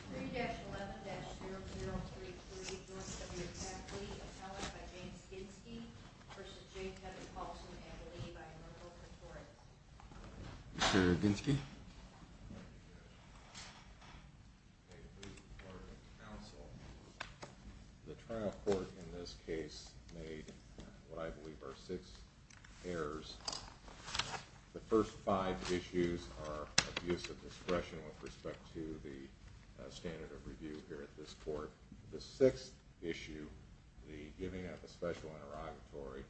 3-11-0033, adjournment of your faculty, a challenge by James Ginsky v. J. Kevin Paulsen and a leave by Enrico Pretori. Mr. Ginsky. The trial court in this case made what I believe are six errors. The first five issues are abuse of discretion with respect to the standard of review here at this court. The sixth issue, the giving up a special interrogatory,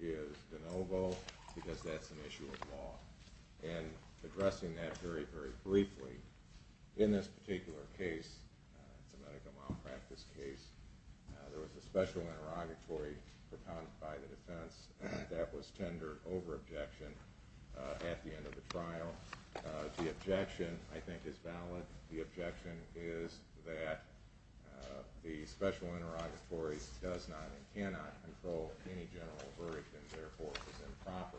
is de novo because that's an issue of law. And addressing that very, very briefly, in this particular case, it's a medical malpractice case, there was a special interrogatory by the defense that was tendered over objection at the end of the trial. The objection, I think, is valid. The objection is that the special interrogatory does not and cannot control any general verdict and therefore is improper.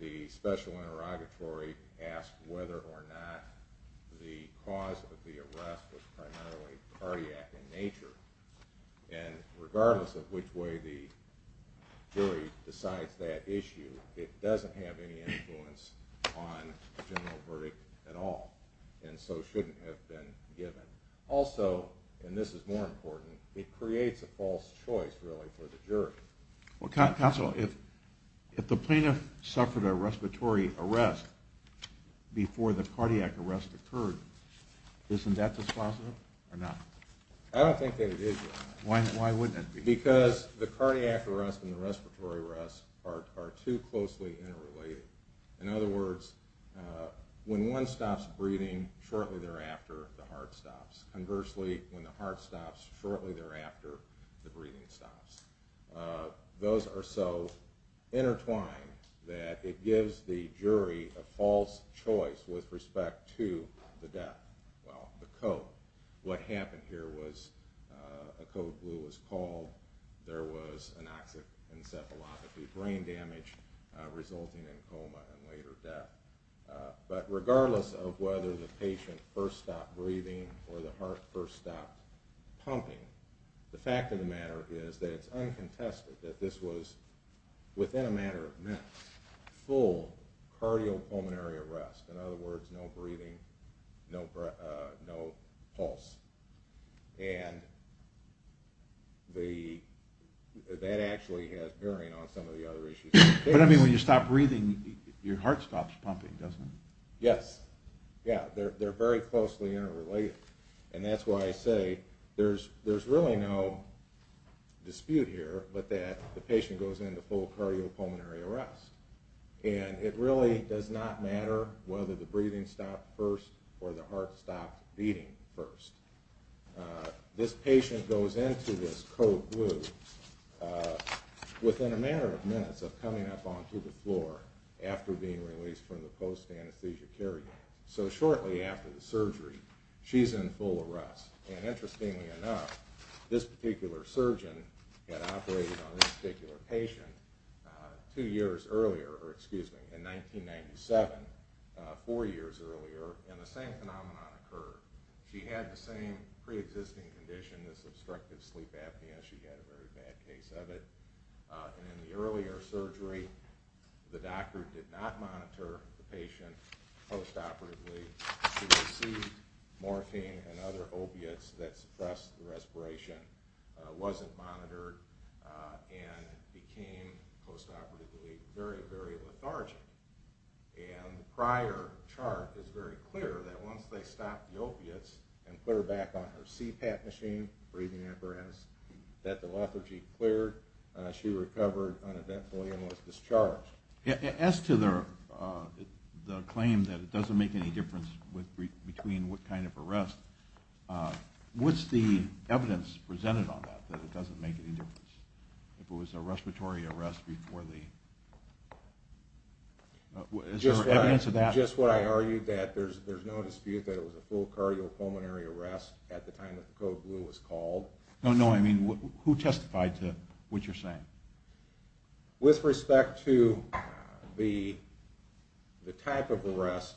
The special interrogatory asked whether or not the cause of the arrest was primarily cardiac in nature. And regardless of which way the jury decides that issue, it doesn't have any influence on the general verdict at all. And so shouldn't have been given. Also, and this is more important, it creates a false choice, really, for the jury. Counsel, if the plaintiff suffered a respiratory arrest before the cardiac arrest occurred, isn't that just positive or not? I don't think that it is. Why wouldn't it be? Because the cardiac arrest and the respiratory arrest are too closely interrelated. In other words, when one stops breathing, shortly thereafter the heart stops. Conversely, when the heart stops, shortly thereafter the breathing stops. Those are so intertwined that it gives the jury a false choice with respect to the death. Well, the code. What happened here was a code blue was called, there was anoxic encephalopathy, brain damage resulting in coma and later death. But regardless of whether the patient first stopped breathing or the heart first stopped pumping, the fact of the matter is that it's uncontested that this was, within a matter of minutes, full cardiopulmonary arrest. In other words, no breathing, no pulse. And that actually has bearing on some of the other issues. But I mean, when you stop breathing, your heart stops pumping, doesn't it? Yes. Yeah, they're very closely interrelated. And that's why I say there's really no dispute here but that the patient goes into full cardiopulmonary arrest. And it really does not matter whether the breathing stopped first or the heart stopped beating first. This patient goes into this code blue within a matter of minutes of coming up onto the floor after being released from the post-anesthesia care unit. So shortly after the surgery, she's in full arrest. And interestingly enough, this particular surgeon had operated on this particular patient two years earlier, or excuse me, in 1997, four years earlier, and the same phenomenon occurred. She had the same preexisting condition, this obstructive sleep apnea. She had a very bad case of it. And in the earlier surgery, the doctor did not monitor the patient post-operatively. He received morphine and other opiates that suppressed the respiration, wasn't monitored, and became post-operatively very, very lethargic. And the prior chart is very clear that once they stopped the opiates and put her back on her CPAP machine, breathing at rest, that the lethargy cleared. She recovered uneventfully and was discharged. As to the claim that it doesn't make any difference between what kind of arrest, what's the evidence presented on that, that it doesn't make any difference? If it was a respiratory arrest before the... Is there evidence of that? Just what I argued, that there's no dispute that it was a full cardiopulmonary arrest at the time that the code blue was called. No, no, I mean, who testified to what you're saying? With respect to the type of arrest,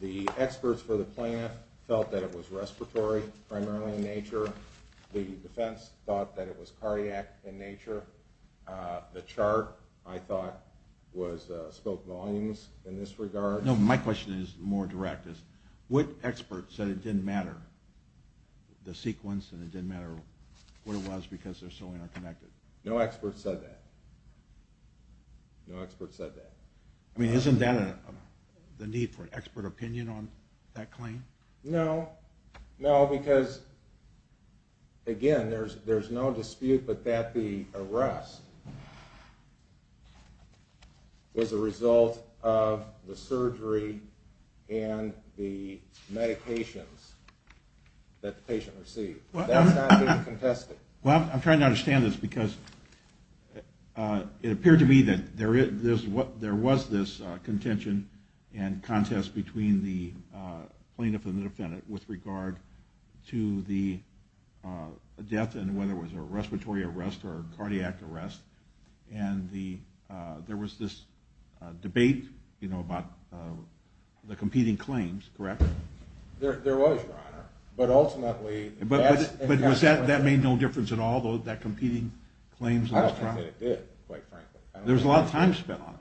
the experts for the plant felt that it was respiratory, primarily in nature. The defense thought that it was cardiac in nature. The chart, I thought, spoke volumes in this regard. No, my question is more direct. What experts said it didn't matter, the sequence, and it didn't matter what it was because they're so interconnected? No experts said that. No experts said that. I mean, isn't that the need for expert opinion on that claim? No, no, because, again, there's no dispute that the arrest was a result of the surgery and the medications that the patient received. That's not being contested. Well, I'm trying to understand this because it appeared to me that there was this contention and contest between the plaintiff and the defendant with regard to the death and whether it was a respiratory arrest or a cardiac arrest, and there was this debate about the competing claims, correct? There was, Your Honor, but ultimately... But that made no difference at all, that competing claims? I don't think that it did, quite frankly. There was a lot of time spent on it.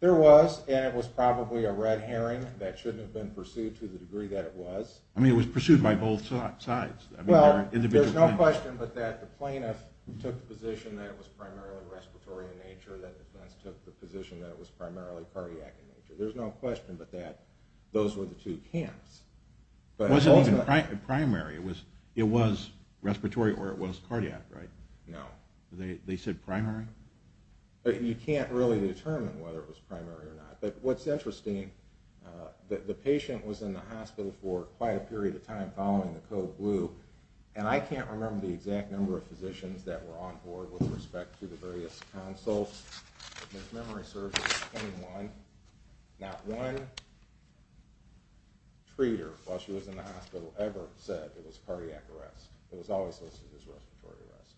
There was, and it was probably a red herring that shouldn't have been pursued to the degree that it was. I mean, it was pursued by both sides. Well, there's no question but that the plaintiff took the position that it was primarily respiratory in nature, that the defense took the position that it was primarily cardiac in nature. There's no question but that those were the two camps. It wasn't even primary. It was respiratory or it was cardiac, right? No. They said primary? You can't really determine whether it was primary or not. But what's interesting, the patient was in the hospital for quite a period of time following the code blue, and I can't remember the exact number of physicians that were on board with respect to the various consults. If memory serves, it was 21. Not one treater, while she was in the hospital, ever said it was cardiac arrest. It was always listed as respiratory arrest.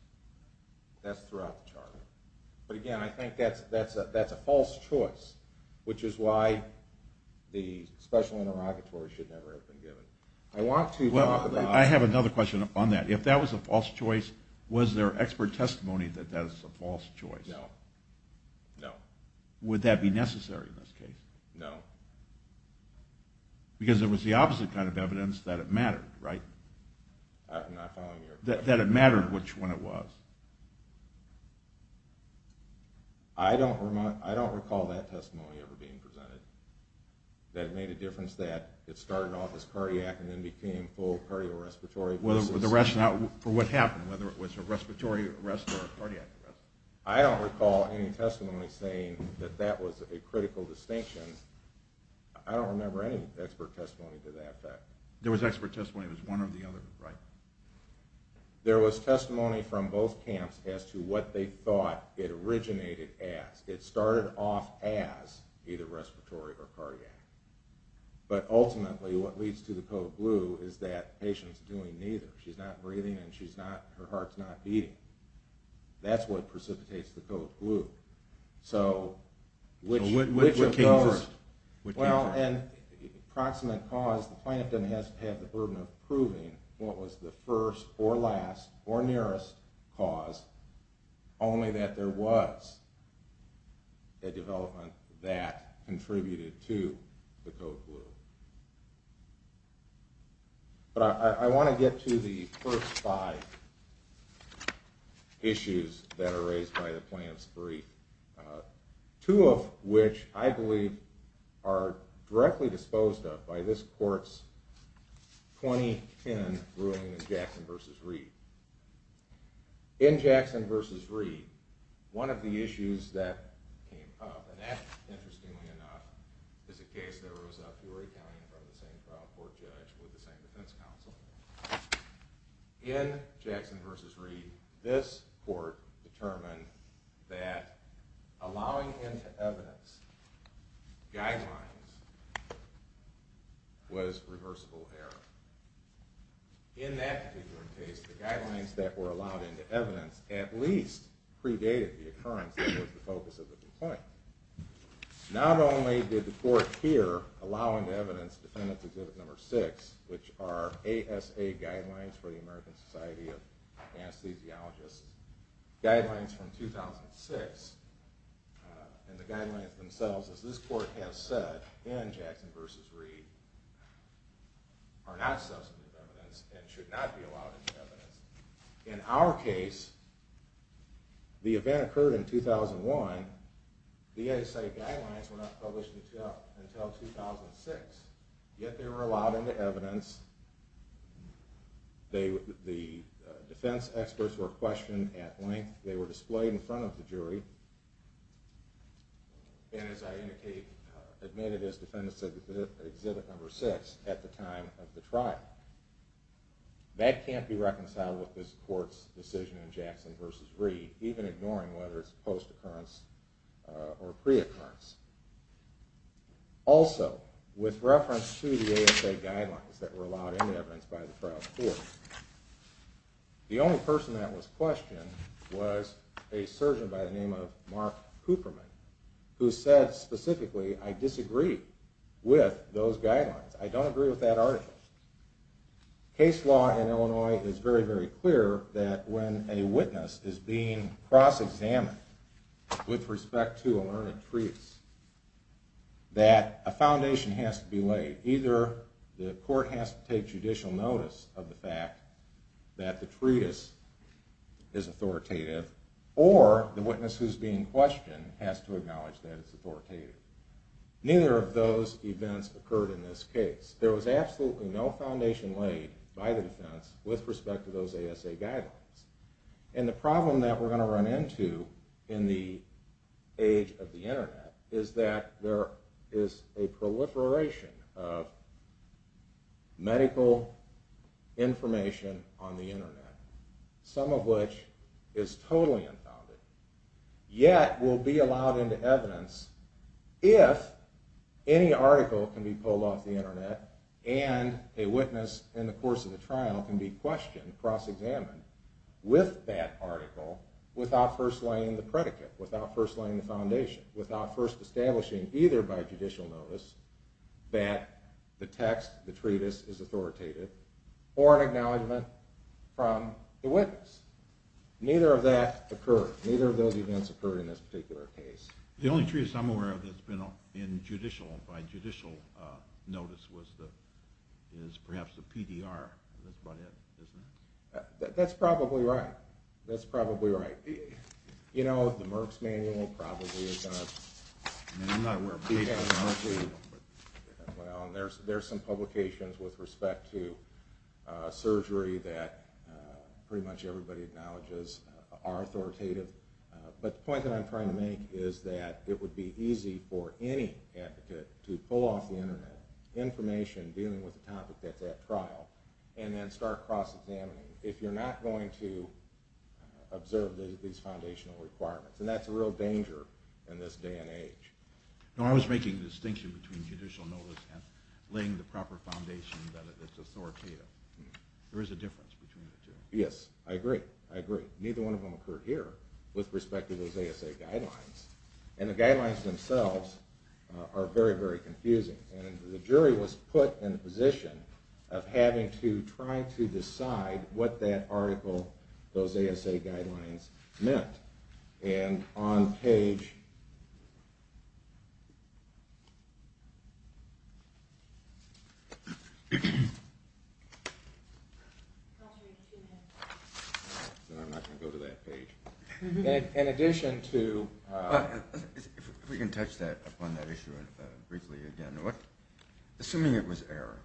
That's throughout the charter. But again, I think that's a false choice, which is why the special interrogatory should never have been given. I have another question on that. If that was a false choice, was there expert testimony that that was a false choice? No. Would that be necessary in this case? No. Because it was the opposite kind of evidence that it mattered, right? I'm not following your question. That it mattered which one it was. I don't recall that testimony ever being presented, that it made a difference that it started off as cardiac and then became full cardiorespiratory. For what happened, whether it was a respiratory arrest or a cardiac arrest? I don't recall any testimony saying that that was a critical distinction. I don't remember any expert testimony to that fact. There was expert testimony. It was one or the other, right? There was testimony from both camps as to what they thought it originated as. It started off as either respiratory or cardiac. But ultimately, what leads to the code blue is that patient's doing neither. She's not breathing and her heart's not beating. That's what precipitates the code blue. So which of those? Approximate cause, the plaintiff doesn't have to have the burden of proving what was the first or last or nearest cause, only that there was a development that contributed to the code blue. But I want to get to the first five issues that are raised by the plaintiff's brief. Two of which, I believe, are directly disposed of by this court's 2010 ruling in Jackson v. Reed. In Jackson v. Reed, one of the issues that came up, and that, interestingly enough, is a case that arose out of Peoria County in front of the same trial court judge with the same defense counsel. In Jackson v. Reed, this court determined that allowing into evidence guidelines was reversible error. In that particular case, the guidelines that were allowed into evidence at least predated the occurrence that was the focus of the complaint. Not only did the court here allow into evidence Defendant's Exhibit No. 6, which are ASA guidelines for the American Society of Anesthesiologists, guidelines from 2006, and the guidelines themselves, as this court has said, in Jackson v. Reed, are not substantive evidence and should not be allowed into evidence. In our case, the event occurred in 2001. The ASA guidelines were not published until 2006. Yet they were allowed into evidence. The defense experts were questioned at length. They were displayed in front of the jury and, as I admitted, as Defendant's Exhibit No. 6 at the time of the trial. That can't be reconciled with this court's decision in Jackson v. Reed, even ignoring whether it's post-occurrence or pre-occurrence. Also, with reference to the ASA guidelines that were allowed into evidence by the trial court, the only person that was questioned was a surgeon by the name of Mark Cooperman, who said specifically, I disagree with those guidelines. I don't agree with that article. Case law in Illinois is very, very clear that when a witness is being cross-examined with respect to a learned treatise, that a foundation has to be laid. Either the court has to take judicial notice of the fact that the treatise is authoritative, or the witness who's being questioned has to acknowledge that it's authoritative. Neither of those events occurred in this case. There was absolutely no foundation laid by the defense with respect to those ASA guidelines. And the problem that we're going to run into in the age of the internet is that there is a proliferation of medical information on the internet, some of which is totally unfounded, yet will be allowed into evidence if any article can be pulled off the internet and a witness in the course of the trial can be questioned, cross-examined with that article without first laying the predicate, without first laying the foundation, without first establishing either by judicial notice that the text, the treatise is authoritative, or an acknowledgment from the witness. Neither of that occurred. Neither of those events occurred in this particular case. The only treatise I'm aware of that's been in judicial, by judicial notice, is perhaps the PDR. That's probably right. That's probably right. You know, the Merck's Manual probably is going to... Well, there's some publications with respect to surgery that pretty much everybody acknowledges are authoritative, but the point that I'm trying to make is that it would be easy for any advocate to pull off the internet information dealing with the topic that's at trial and then start cross-examining if you're not going to observe these foundational requirements. And that's a real danger in this day and age. No, I was making the distinction between judicial notice and laying the proper foundation that it's authoritative. There is a difference between the two. Yes, I agree. I agree. Neither one of them occurred here with respect to those ASA guidelines. And the guidelines themselves are very, very confusing. And the jury was put in a position of having to try to decide what that article, those ASA guidelines, meant. And on page... I'm not going to go to that page. In addition to... If we can touch upon that issue briefly again. Assuming it was error,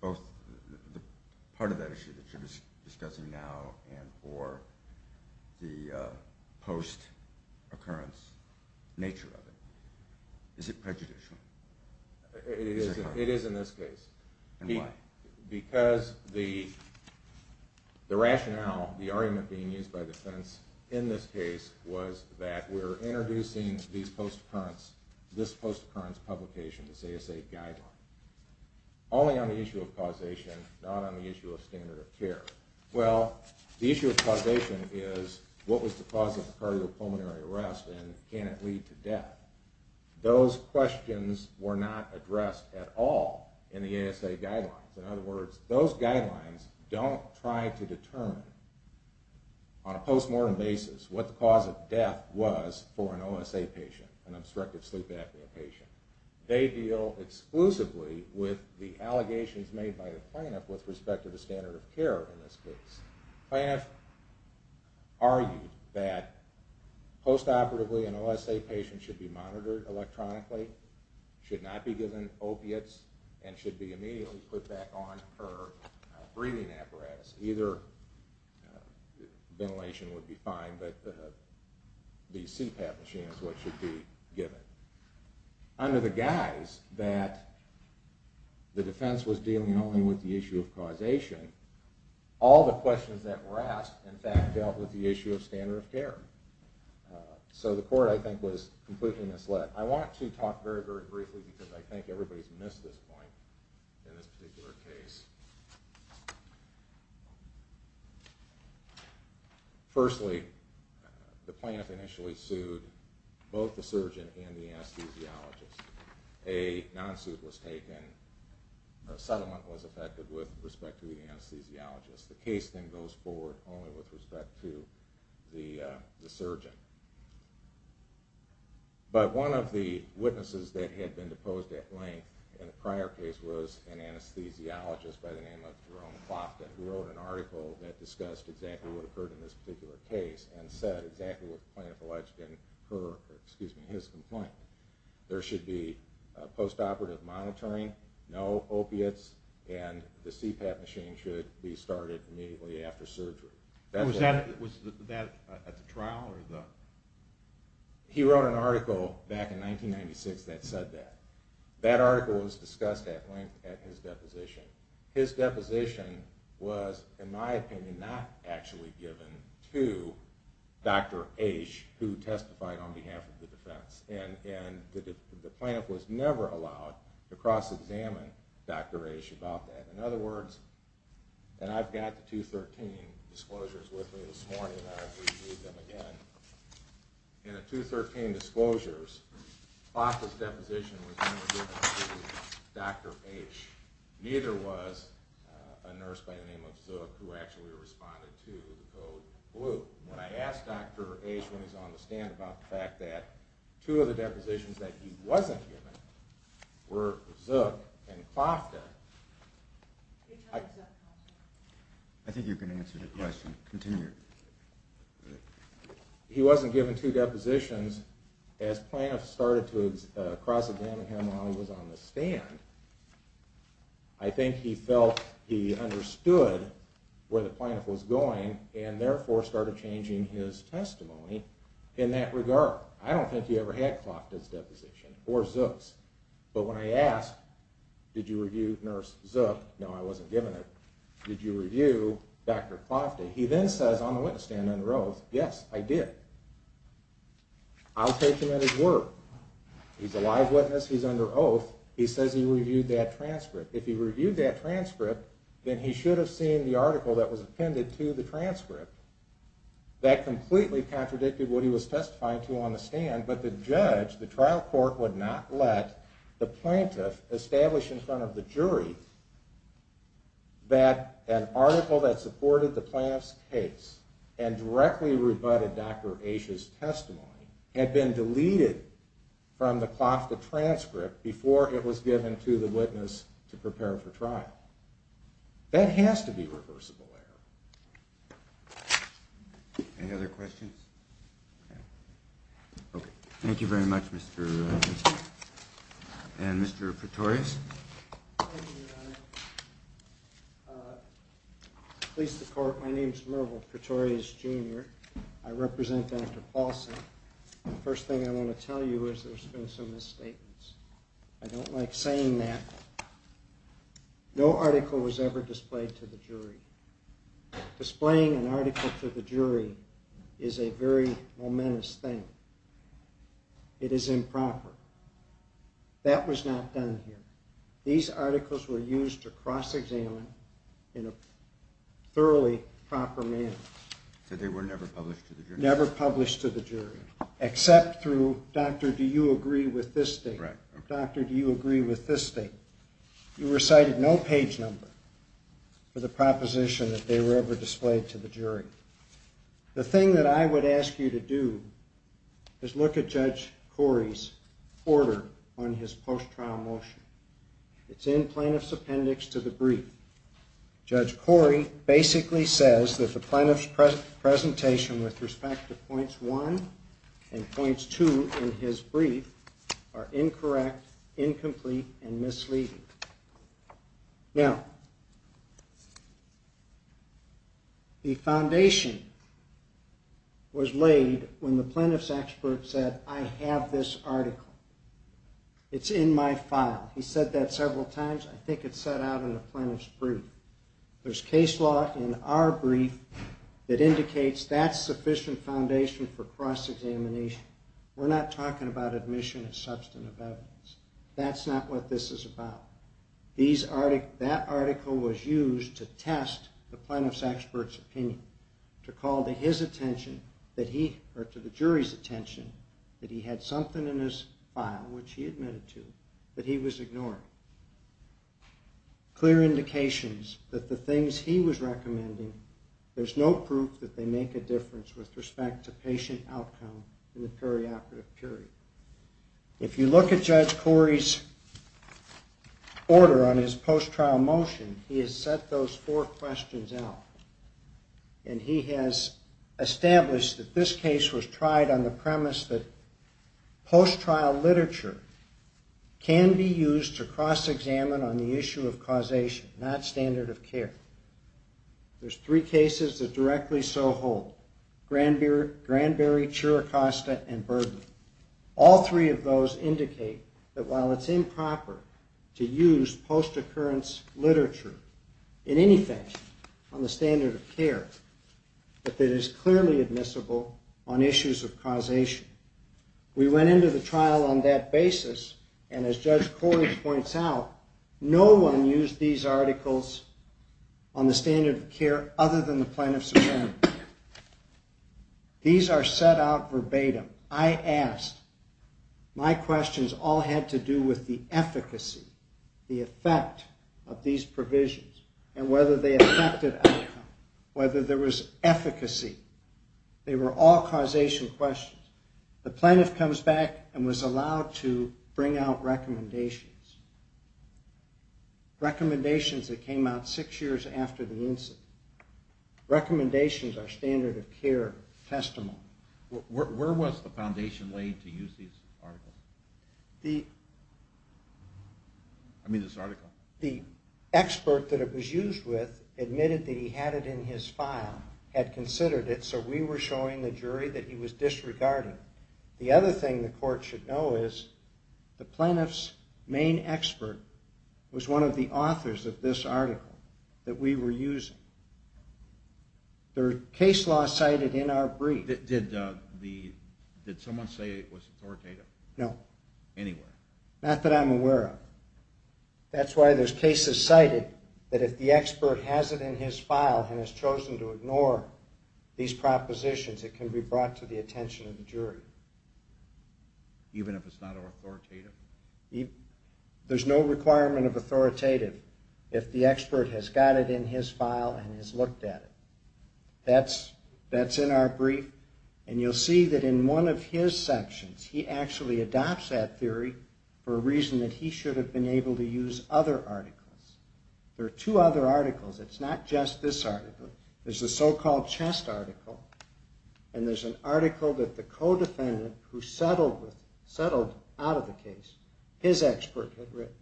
both the part of that issue that you're discussing now and for the post-occurrence nature of it, is it prejudicial? It is in this case. And why? Because the rationale, the argument being used by defense in this case was that we're introducing this post-occurrence publication, this ASA guideline, only on the issue of causation, not on the issue of standard of care. Well, the issue of causation is what was the cause of the cardiopulmonary arrest and can it lead to death? Well, those questions were not addressed at all in the ASA guidelines. In other words, those guidelines don't try to determine on a post-mortem basis what the cause of death was for an OSA patient, an obstructive sleep apnea patient. They deal exclusively with the allegations made by the plaintiff with respect to the standard of care in this case. The plaintiff argued that post-operatively an OSA patient should be monitored electronically, should not be given opiates, and should be immediately put back on her breathing apparatus. Either ventilation would be fine, but the CPAP machine is what should be given. Under the guise that the defense was dealing only with the issue of causation, all the questions that were asked dealt with the issue of standard of care. So the court, I think, was completely misled. I want to talk very briefly because I think everybody has missed this point in this particular case. Firstly, the plaintiff initially sued both the surgeon and the anesthesiologist. A non-suit was taken, a settlement was effected with respect to the anesthesiologist. The case then goes forward only with respect to the surgeon. But one of the witnesses that had been deposed at length in the prior case was an anesthesiologist by the name of Jerome Clofton, who wrote an article that discussed exactly what occurred in this particular case and said exactly what the plaintiff alleged in his complaint. There should be post-operative monitoring, no opiates, and the CPAP machine should be started immediately after surgery. Was that at the trial? He wrote an article back in 1996 that said that. That article was discussed at length at his deposition. His deposition was, in my opinion, not actually given to Dr. Ashe, who testified on behalf of the defense. The plaintiff was never allowed to cross-examine Dr. Ashe about that. In other words, and I've got the 213 disclosures with me this morning. In the 213 disclosures, Clofton's deposition was never given to Dr. Ashe. Neither was a nurse by the name of Sook who actually responded to the code blue. When I asked Dr. Ashe when he was on the stand about the fact that two of the depositions that he wasn't given were Sook and Clofton. I think you can answer the question. Continue. He wasn't given two depositions as plaintiffs started to cross-examine him while he was on the stand. I think he felt he understood where the plaintiff was going and therefore started changing his testimony in that regard. I don't think he ever had Clofton's deposition or Sook's. But when I asked, did you review nurse Sook? No, I wasn't given it. Did you review Dr. Clofton? He then says on the witness stand under oath, yes, I did. I'll take him at his word. He's a live witness, he's under oath, he says he reviewed that transcript. If he reviewed that transcript, then he should have seen the article that was appended to the transcript. That completely contradicted what he was testifying to on the stand, but the judge, the trial court would not let the plaintiff establish in front of the jury that an article that supported the plaintiff's case and directly rebutted Dr. Asha's testimony had been deleted from the Clofton transcript before it was given to the witness to prepare for trial. That has to be reversible error. Any other questions? Okay, thank you very much, Mr. and Mr. Pretorius. Thank you, Your Honor. Police Department, my name is Merville Pretorius, Jr. I represent Dr. Paulson. The first thing I want to tell you is there's been some misstatements. I don't like saying that. No article was ever displayed to the jury. Displaying an article to the jury is a very momentous thing. It is improper. That was not done here. These articles were used to cross-examine in a thoroughly proper manner. So they were never published to the jury? Never published to the jury, except through, Doctor, do you agree with this statement? Doctor, do you agree with this statement? You recited no page number for the proposition that they were ever displayed to the jury. The thing that I would ask you to do is look at Judge Corey's order on his post-trial motion. It's in plaintiff's appendix to the brief. Judge Corey basically says that the plaintiff's presentation with respect to points 1 and points 2 in his brief are incorrect, incomplete, and misleading. Now, the foundation was laid when the plaintiff's expert said, I have this article. It's in my file. He said that several times. I think it's set out in the plaintiff's brief. There's case law in our brief that indicates that's sufficient foundation for cross-examination. We're not talking about admission as substantive evidence. That's not what this is about. That article was used to test the plaintiff's expert's opinion. To call to his attention, or to the jury's attention, that he had something in his file, which he admitted to, that he was ignoring. Clear indications that the things he was recommending, there's no proof that they make a difference with respect to patient outcome in the perioperative period. If you look at Judge Corey's order on his post-trial motion, he has set those four questions out. And he has established that this case was tried on the premise that post-trial literature can be used to cross-examine on the issue of causation, not standard of care. There's three cases that directly so hold. Granberry, Chiricasta, and Burden. All three of those indicate that while it's improper to use post-occurrence literature in any fashion on the standard of care, that it is clearly admissible on issues of causation. We went into the trial on that basis, and as Judge Corey points out, no one used these articles on the standard of care other than the plaintiff's opinion. These are set out verbatim. I asked. My questions all had to do with the efficacy, the effect of these provisions, and whether they affected outcome. Whether there was efficacy. They were all causation questions. The plaintiff comes back and was allowed to bring out recommendations. Recommendations that came out six years after the incident. Recommendations are standard of care testimony. Where was the foundation laid to use these articles? The expert that it was used with admitted that he had it in his file, had considered it, so we were showing the jury that he was disregarding it. The other thing the court should know is the plaintiff's main expert was one of the authors of this article that we were using. There are case laws cited in our brief. Did someone say it was authoritative? No. Anywhere? Not that I'm aware of. That's why there's cases cited that if the expert has it in his file and has chosen to ignore these propositions, it can be brought to the attention of the jury. Even if it's not authoritative? There's no requirement of authoritative if the expert has got it in his file and has looked at it. That's in our brief, and you'll see that in one of his sections, he actually adopts that theory for a reason that he should have been able to use other articles. There are two other articles. It's not just this article. There's the so-called chest article, and there's an article that the co-defendant who settled out of the case, his expert, had written.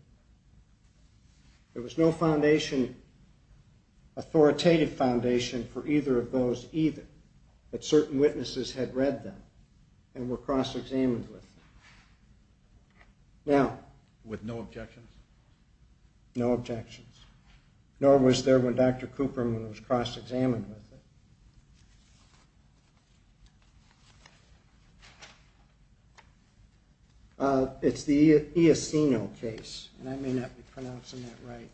There was no authoritative foundation for either of those either, but certain witnesses had read them and were cross-examined with them. With no objections? No objections. Nor was there when Dr. Cooperman was cross-examined with it. It's the Iacino case, and I may not be pronouncing that right.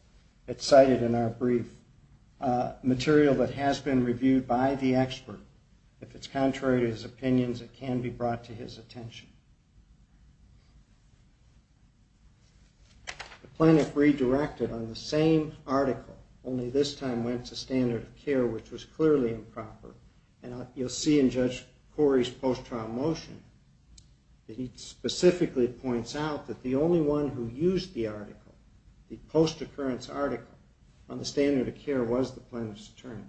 It's cited in our brief. It's material that has been reviewed by the expert. If it's contrary to his opinions, it can be brought to his attention. The plaintiff redirected on the same article, only this time went to standard of care, which was clearly improper. You'll see in Judge Corey's post-trial motion that he specifically points out that the only one who used the article, the post-occurrence article, on the standard of care was the plaintiff's attorney.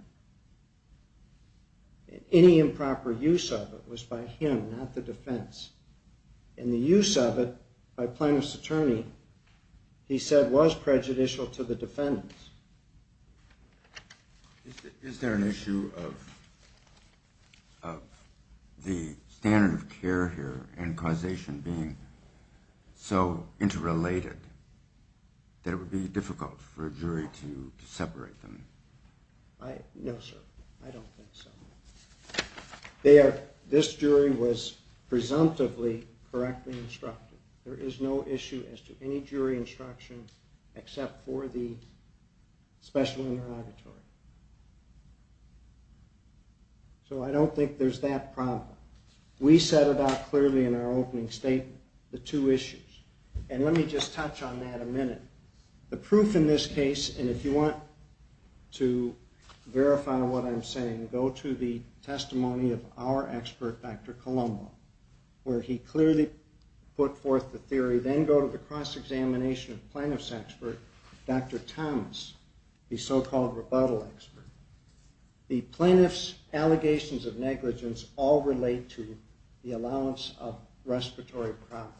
Any improper use of it was by him, not the defense. And the use of it by plaintiff's attorney, he said, was prejudicial to the defendants. Is there an issue of the standard of care here and causation being so interrelated that it would be difficult for a jury to separate them? No, sir. I don't think so. This jury was presumptively correctly instructed. There is no issue as to any jury instruction except for the special interrogatory. So I don't think there's that problem. We set about clearly in our opening statement the two issues. And let me just touch on that a minute. The proof in this case, and if you want to verify what I'm saying, go to the testimony of our expert, Dr. Colombo, where he clearly put forth the theory. Then go to the cross-examination of plaintiff's expert, Dr. Thomas, the so-called rebuttal expert. The plaintiff's allegations of negligence all relate to the allowance of respiratory problems.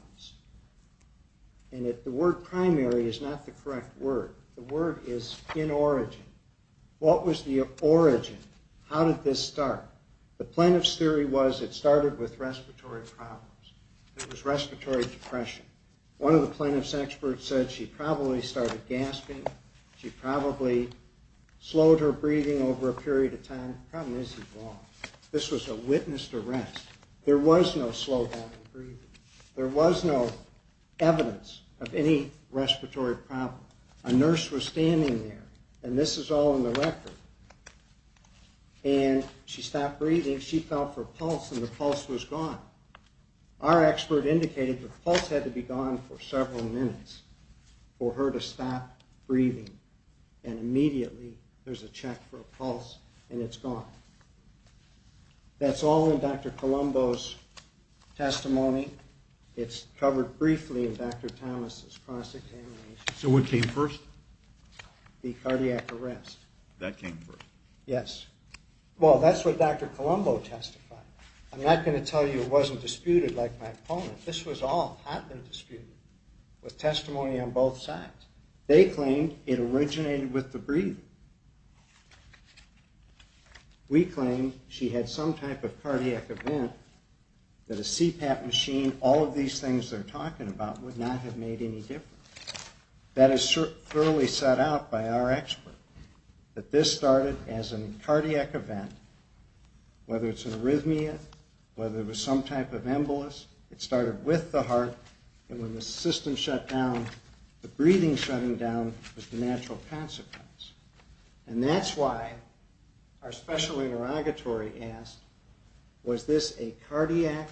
And the word primary is not the correct word. The word is in origin. What was the origin? How did this start? The plaintiff's theory was it started with respiratory problems. It was respiratory depression. One of the plaintiff's experts said she probably started gasping. She probably slowed her breathing over a period of time. The problem is he's wrong. This was a witnessed arrest. There was no slowdown in breathing. There was no evidence of any respiratory problem. A nurse was standing there, and this is all in the record, and she stopped breathing. She felt for a pulse, and the pulse was gone. Our expert indicated the pulse had to be gone for several minutes for her to stop breathing. And immediately, there's a check for a pulse, and it's gone. That's all in Dr. Colombo's testimony. It's covered briefly in Dr. Thomas's cross-examination. So what came first? The cardiac arrest. That came first. Yes. Well, that's what Dr. Colombo testified. I'm not going to tell you it wasn't disputed like my opponent. This was all happened disputed with testimony on both sides. They claimed it originated with the breathing. We claimed she had some type of cardiac event that a CPAP machine, all of these things they're talking about, would not have made any difference. That is thoroughly set out by our expert, that this started as a cardiac event, whether it's an arrhythmia, whether it was some type of embolus. It started with the heart, and when the system shut down, the breathing shutting down was the natural consequence. And that's why our special interrogatory asked, was this a cardiac?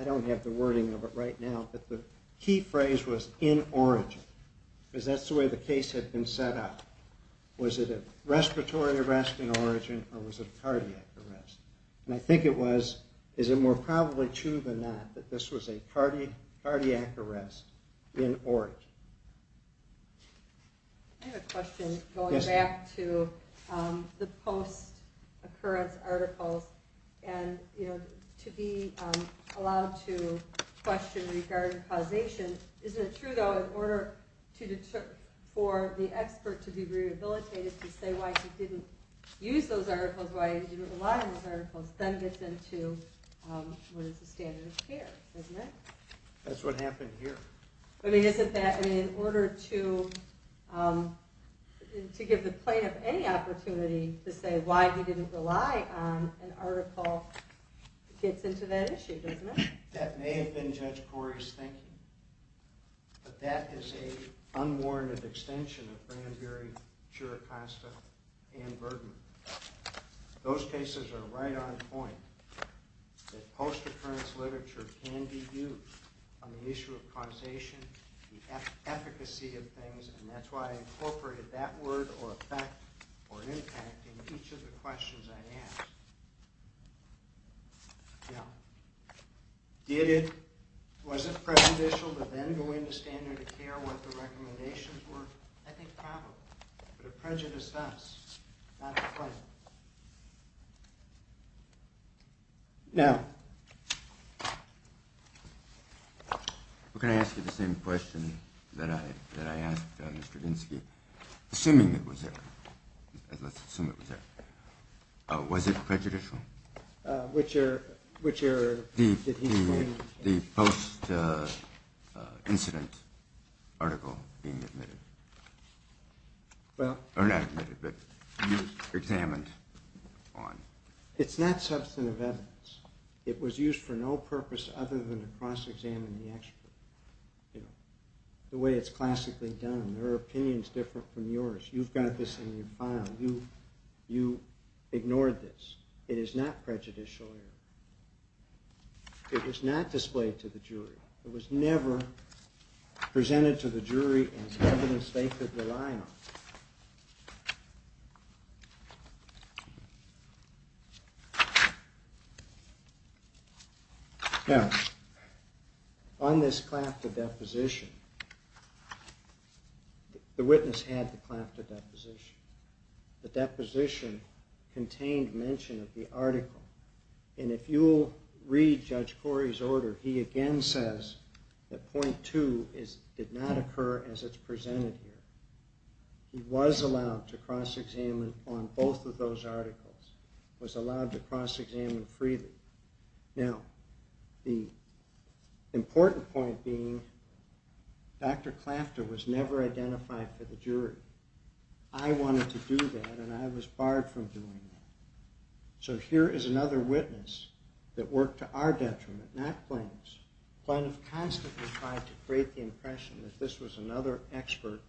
I don't have the wording of it right now, but the key phrase was in origin, because that's the way the case had been set up. Was it a respiratory arrest in origin, or was it a cardiac arrest? And I think it was, is it more probably true than not, that this was a cardiac arrest in origin. I have a question going back to the post-occurrence articles, and to be allowed to question regarding causation. Isn't it true, though, in order for the expert to be rehabilitated, to say why he didn't use those articles, why he didn't rely on those articles, then gets into what is the standard of care, isn't it? That's what happened here. I mean, isn't that, I mean, in order to give the plaintiff any opportunity to say why he didn't rely on an article gets into that issue, doesn't it? That may have been Judge Corey's thinking, but that is a unwarranted extension of Branberry, Chiricasta, and Bergman. Those cases are right on point, that post-occurrence literature can be used on the issue of causation, the efficacy of things, and that's why I incorporated that word, or effect, or impact in each of the questions I asked. Now, did it, was it prejudicial to then go into standard of care what the recommendations were? I think probably, but it prejudiced us, not the plaintiff. Now, can I ask you the same question that I asked Mr. Dinsky, assuming it was there, let's assume it was there. Was it prejudicial? Which error did he find? The post-incident article being admitted. Well. Or not admitted, but examined on. It's not substantive evidence. It was used for no purpose other than to cross-examine the expert. The way it's classically done, their opinion's different from yours. You've got this in your file. You ignored this. It is not prejudicial error. It was not displayed to the jury. It was never presented to the jury as evidence they could rely on. Now, on this claim to deposition, the witness had the claim to deposition. The deposition contained mention of the article, and if you'll read Judge Corey's order, he again says that point two did not occur as it's presented here. He was allowed to cross-examine on both of those articles, was allowed to cross-examine freely. Now, the important point being, Dr. Clafter was never identified for the jury. I wanted to do that, and I was barred from doing that. So here is another witness that worked to our detriment, not Plano's. Plano constantly tried to create the impression that this was another expert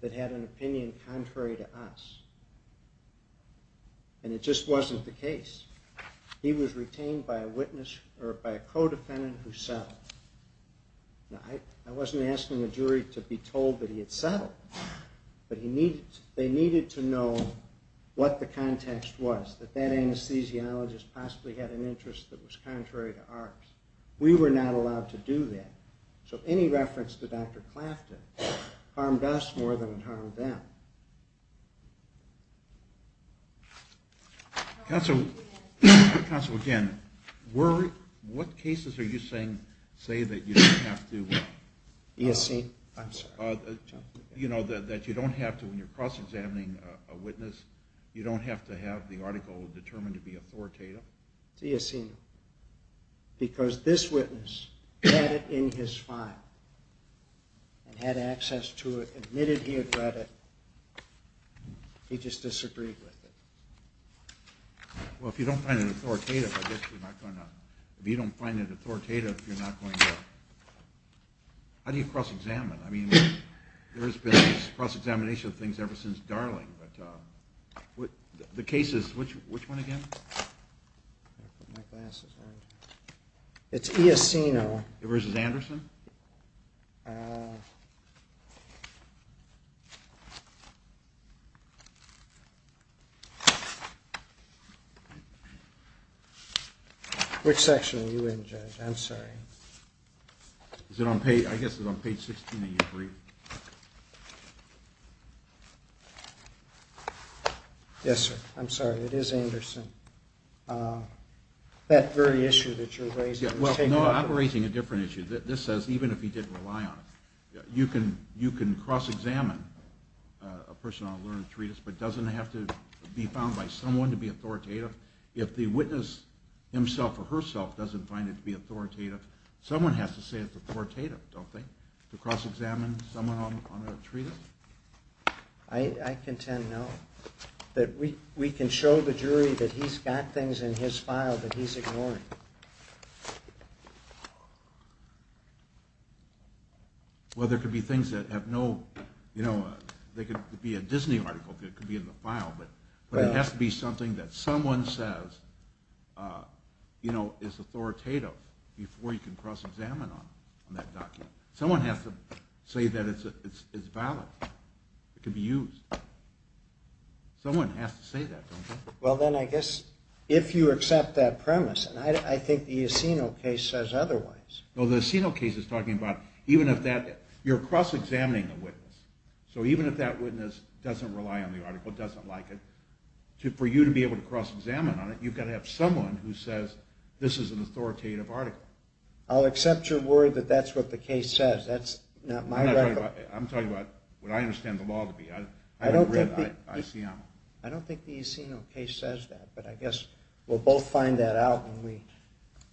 that had an opinion contrary to us, and it just wasn't the case. He was retained by a witness or by a co-defendant who settled. Now, I wasn't asking the jury to be told that he had settled, but they needed to know what the context was, that that anesthesiologist possibly had an interest that was contrary to ours. We were not allowed to do that. So any reference to Dr. Clafter harmed us more than it harmed them. Counsel, again, what cases are you saying say that you don't have to... E.S.C.? I'm sorry. You know, that you don't have to, when you're cross-examining a witness, you don't have to have the article determined to be authoritative? It's E.S.C., because this witness had it in his file and had access to it, admitted he had read it, he just disagreed with it. Well, if you don't find it authoritative, I guess you're not going to... If you don't find it authoritative, you're not going to... How do you cross-examine? I mean, there's been this cross-examination of things ever since Darling, but the cases, which one again? It's E.S.C., no? Versus Anderson? Which section are you in, Judge? I'm sorry. Is it on page... I guess it's on page 16 of your brief. Yes, sir. I'm sorry, it is Anderson. That very issue that you're raising... Yeah, well, no, I'm raising a different issue. This says, even if he did rely on it, you can cross-examine a person on a learned treatise, but doesn't it have to be found by someone to be authoritative? If the witness himself or herself doesn't find it to be authoritative, someone has to say it's authoritative, don't they? To cross-examine someone on a treatise? I contend no. We can show the jury that he's got things in his file that he's ignoring. Well, there could be things that have no... There could be a Disney article that could be in the file, but it has to be something that someone says is authoritative before you can cross-examine on that document. Someone has to say that it's valid. It could be used. Someone has to say that, don't they? Well, then I guess, if you accept that premise, and I think the Aceno case says otherwise. No, the Aceno case is talking about even if that... You're cross-examining a witness. So even if that witness doesn't rely on the article, doesn't like it, for you to be able to cross-examine on it, you've got to have someone who says this is an authoritative article. I'll accept your word that that's what the case says. That's not my record. I'm talking about what I understand the law to be. I don't think the Aceno case says that, but I guess we'll both find that out when we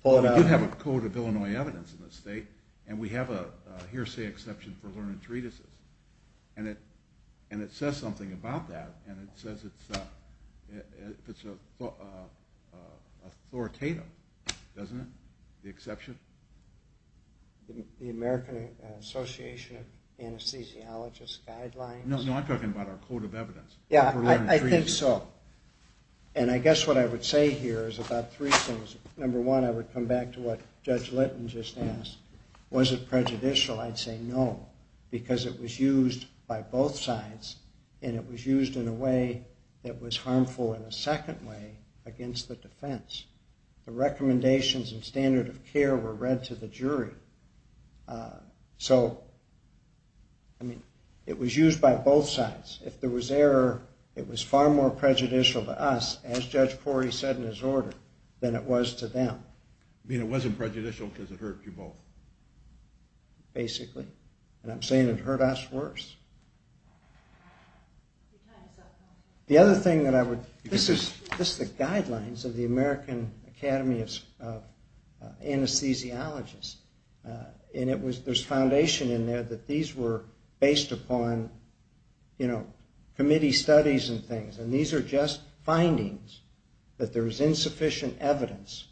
pull it out. You have a code of Illinois evidence in this state, and we have a hearsay exception for learned treatises. And it says something about that, and it says it's authoritative, doesn't it, the exception? The American Association of Anesthesiologists Guidelines? No, I'm talking about our code of evidence. Yeah, I think so. And I guess what I would say here is about three things. Number one, I would come back to what Judge Litton just asked. Was it prejudicial? I'd say no, because it was used by both sides, and it was used in a way that was harmful in a second way against the defense. The recommendations and standard of care were read to the jury. So, I mean, it was used by both sides. If there was error, it was far more prejudicial to us, as Judge Corey said in his order, than it was to them. You mean it wasn't prejudicial because it hurt you both? Basically. And I'm saying it hurt us worse. The other thing that I would... This is the guidelines of the American Academy of Anesthesiologists, and there's foundation in there that these were based upon, you know, committee studies and things, and these are just findings that there is insufficient evidence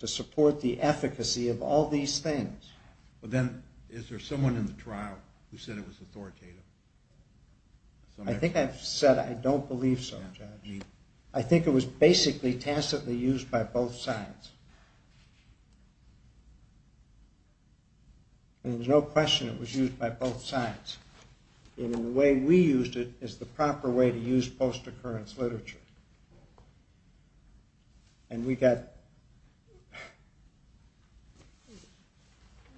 to support the efficacy of all these things. But then is there someone in the trial who said it was authoritative? I think I've said I don't believe so, Judge. I think it was basically tacitly used by both sides. And there's no question it was used by both sides. And the way we used it is the proper way to use post-occurrence literature. And we got...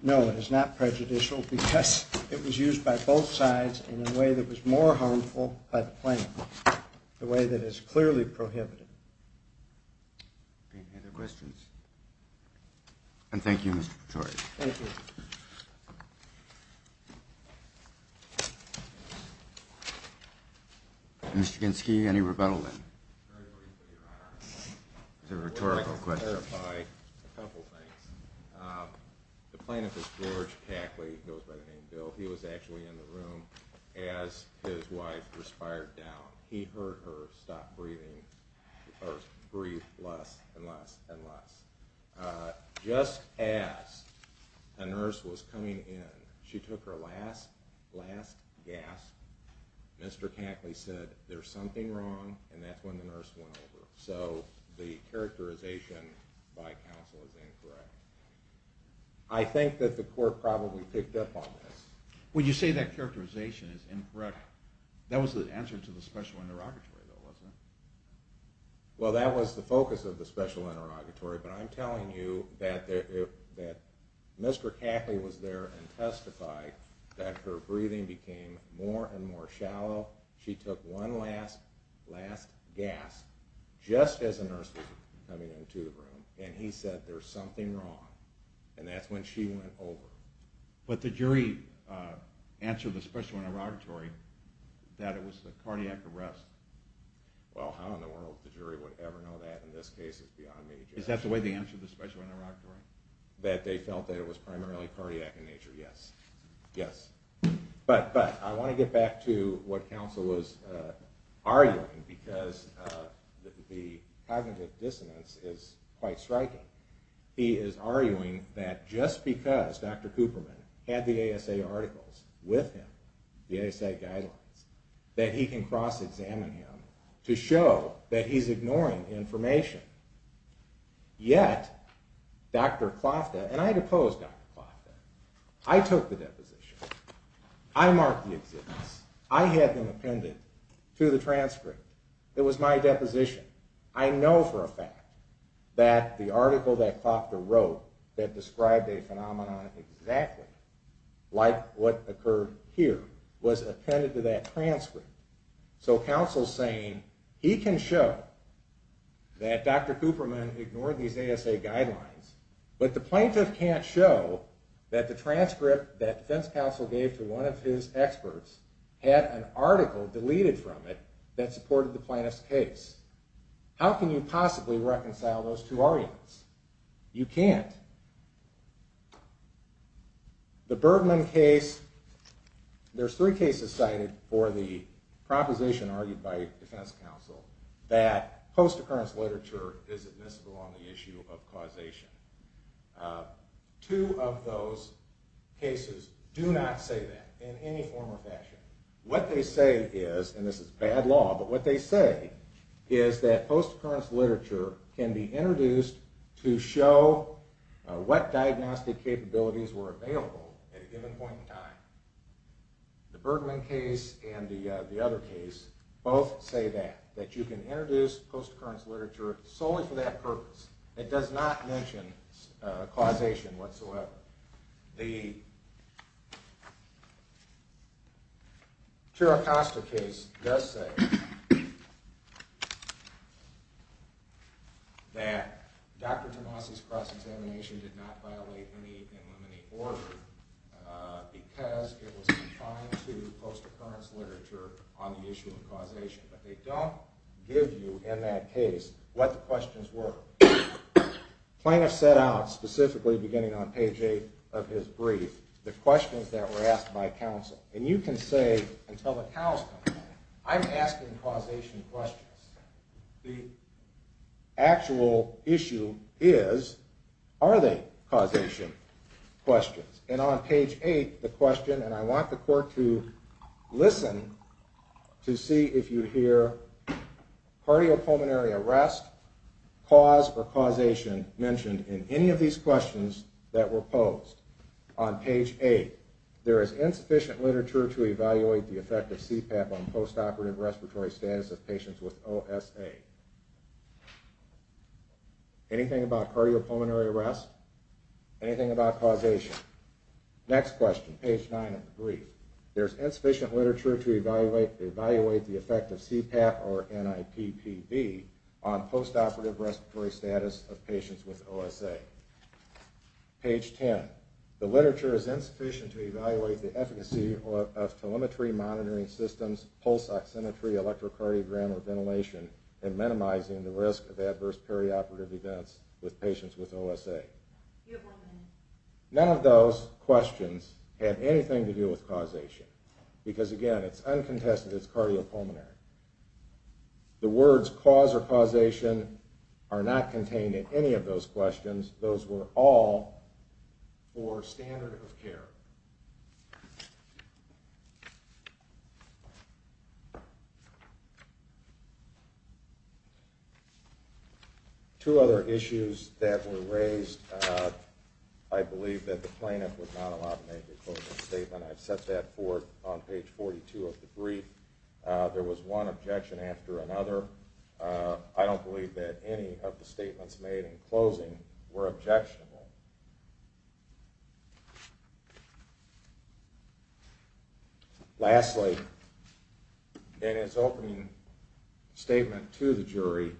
No, it is not prejudicial because it was used by both sides in a way that was more harmful by the plaintiff, the way that is clearly prohibited. Any other questions? And thank you, Mr. Pretorius. Thank you. Mr. Ginsky, any rebuttal then? Very briefly, Your Honor. It's a rhetorical question. I'd like to clarify a couple things. The plaintiff is George Cackley, goes by the name Bill. He was actually in the room as his wife respired down. He heard her stop breathing, or breathe less and less and less. Just as a nurse was coming in, she took her last, last gasp. Mr. Cackley said, there's something wrong. And that's when the nurse went over. So the characterization by counsel is incorrect. I think that the court probably picked up on this. When you say that characterization is incorrect, that was the answer to the special interrogatory, though, wasn't it? Well, that was the focus of the special interrogatory. But I'm telling you that Mr. Cackley was there and testified that her breathing became more and more shallow. She took one last, last gasp just as a nurse was coming into the room. And he said, there's something wrong. And that's when she went over. But the jury answered the special interrogatory that it was the cardiac arrest. Well, how in the world the jury would ever know that in this case is beyond me. Is that the way they answered the special interrogatory? That they felt that it was primarily cardiac in nature, yes. But I want to get back to what counsel was arguing because the cognitive dissonance is quite striking. He is arguing that just because Dr. Cooperman had the ASA articles with him, the ASA guidelines, that he can cross-examine him to show that he's ignoring information. Yet, Dr. Klofta, and I deposed Dr. Klofta. I took the deposition. I marked the existence. I had them appended to the transcript. It was my deposition. I know for a fact that the article that Klofta wrote that described a phenomenon exactly like what occurred here was appended to that transcript. So counsel's saying he can show that Dr. Cooperman ignored these ASA guidelines, but the plaintiff can't show that the transcript that defense counsel gave to one of his experts had an article deleted from it that supported the plaintiff's case. How can you possibly reconcile those two arguments? You can't. The Bergman case, there's three cases cited for the proposition argued by defense counsel that post-occurrence literature is admissible on the issue of causation. Two of those cases do not say that in any form or fashion. What they say is, and this is bad law, but what they say is that post-occurrence literature can be introduced to show what diagnostic capabilities were available at a given point in time. The Bergman case and the other case both say that, that you can introduce post-occurrence literature solely for that purpose. It does not mention causation whatsoever. The Chiricasta case does say that Dr. Tomasi's cross-examination did not violate any and limiting order because it was confined to post-occurrence literature on the issue of causation. But they don't give you in that case what the questions were. Plaintiff set out, specifically beginning on page 8 of his brief, the questions that were asked by counsel. And you can say, until the counsel comes in, I'm asking causation questions. The actual issue is, are they causation questions? And on page 8, the question, and I want the court to listen to see if you hear, cardiopulmonary arrest, cause or causation mentioned in any of these questions that were posed. On page 8, there is insufficient literature to evaluate the effect of CPAP on post-operative respiratory status of patients with OSA. Anything about cardiopulmonary arrest? Anything about causation? Next question, page 9 of the brief. There is insufficient literature to evaluate the effect of CPAP or NIPPV on post-operative respiratory status of patients with OSA. Page 10, the literature is insufficient to evaluate the efficacy of telemetry, monitoring systems, pulse oximetry, electrocardiogram, or ventilation in minimizing the risk of adverse perioperative events with patients with OSA. None of those questions have anything to do with causation. Because again, it's uncontested, it's cardiopulmonary. The words cause or causation are not contained in any of those questions. Those were all for standard of care. Two other issues that were raised. I believe that the plaintiff was not allowed to make a closing statement. I've set that forth on page 42 of the brief. There was one objection after another. I don't believe that any of the statements made in closing were objectionable. Lastly, in his opening statement to the jury,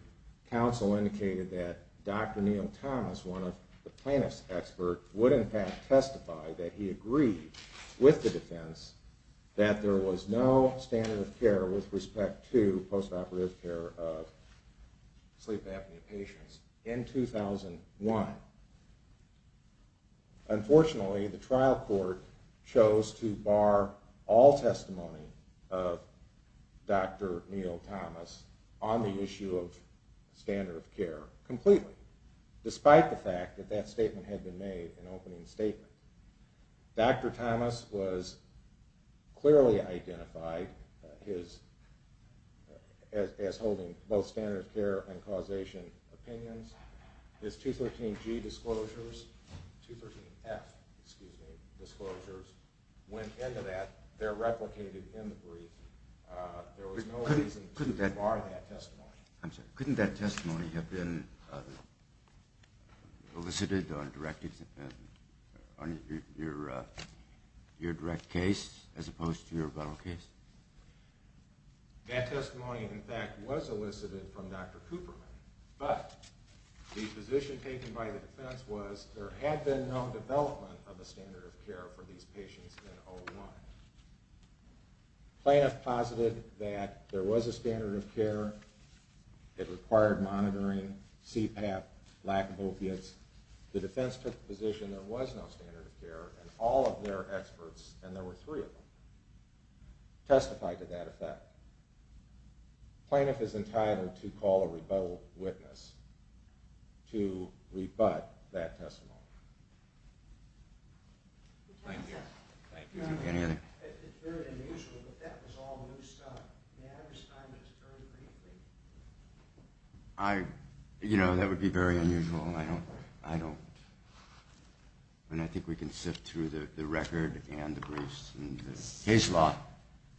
counsel indicated that Dr. Neal Thomas, one of the plaintiff's experts, would in fact testify that he agreed with the defense that there was no standard of care with respect to post-operative care of sleep apnea patients in 2001. Unfortunately, the trial court chose to bar all testimony of Dr. Neal Thomas on the issue of standard of care completely, despite the fact that that statement had been made in opening statement. Dr. Thomas was clearly identified as holding both standard of care and causation opinions. His 213G disclosures, 213F disclosures, went into that. They're replicated in the brief. There was no reason to bar that testimony. Couldn't that testimony have been elicited on your direct case as opposed to your rebuttal case? That testimony, in fact, was elicited from Dr. Cooper. But the position taken by the defense was there had been no development of a standard of care for these patients in 2001. Plaintiff posited that there was a standard of care. It required monitoring, CPAP, lack of opiates. The defense took the position there was no standard of care, and all of their experts, and there were three of them, testified to that effect. Plaintiff is entitled to call a rebuttal witness to rebut that testimony. Thank you. It's very unusual, but that was all new stuff. May I understand this very briefly? You know, that would be very unusual. I think we can sift through the record and the briefs and the case law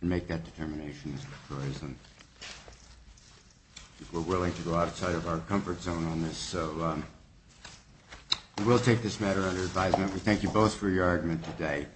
and make that determination. We're willing to go outside of our comfort zone on this, so we will take this matter under advisement. We thank you both for your argument today.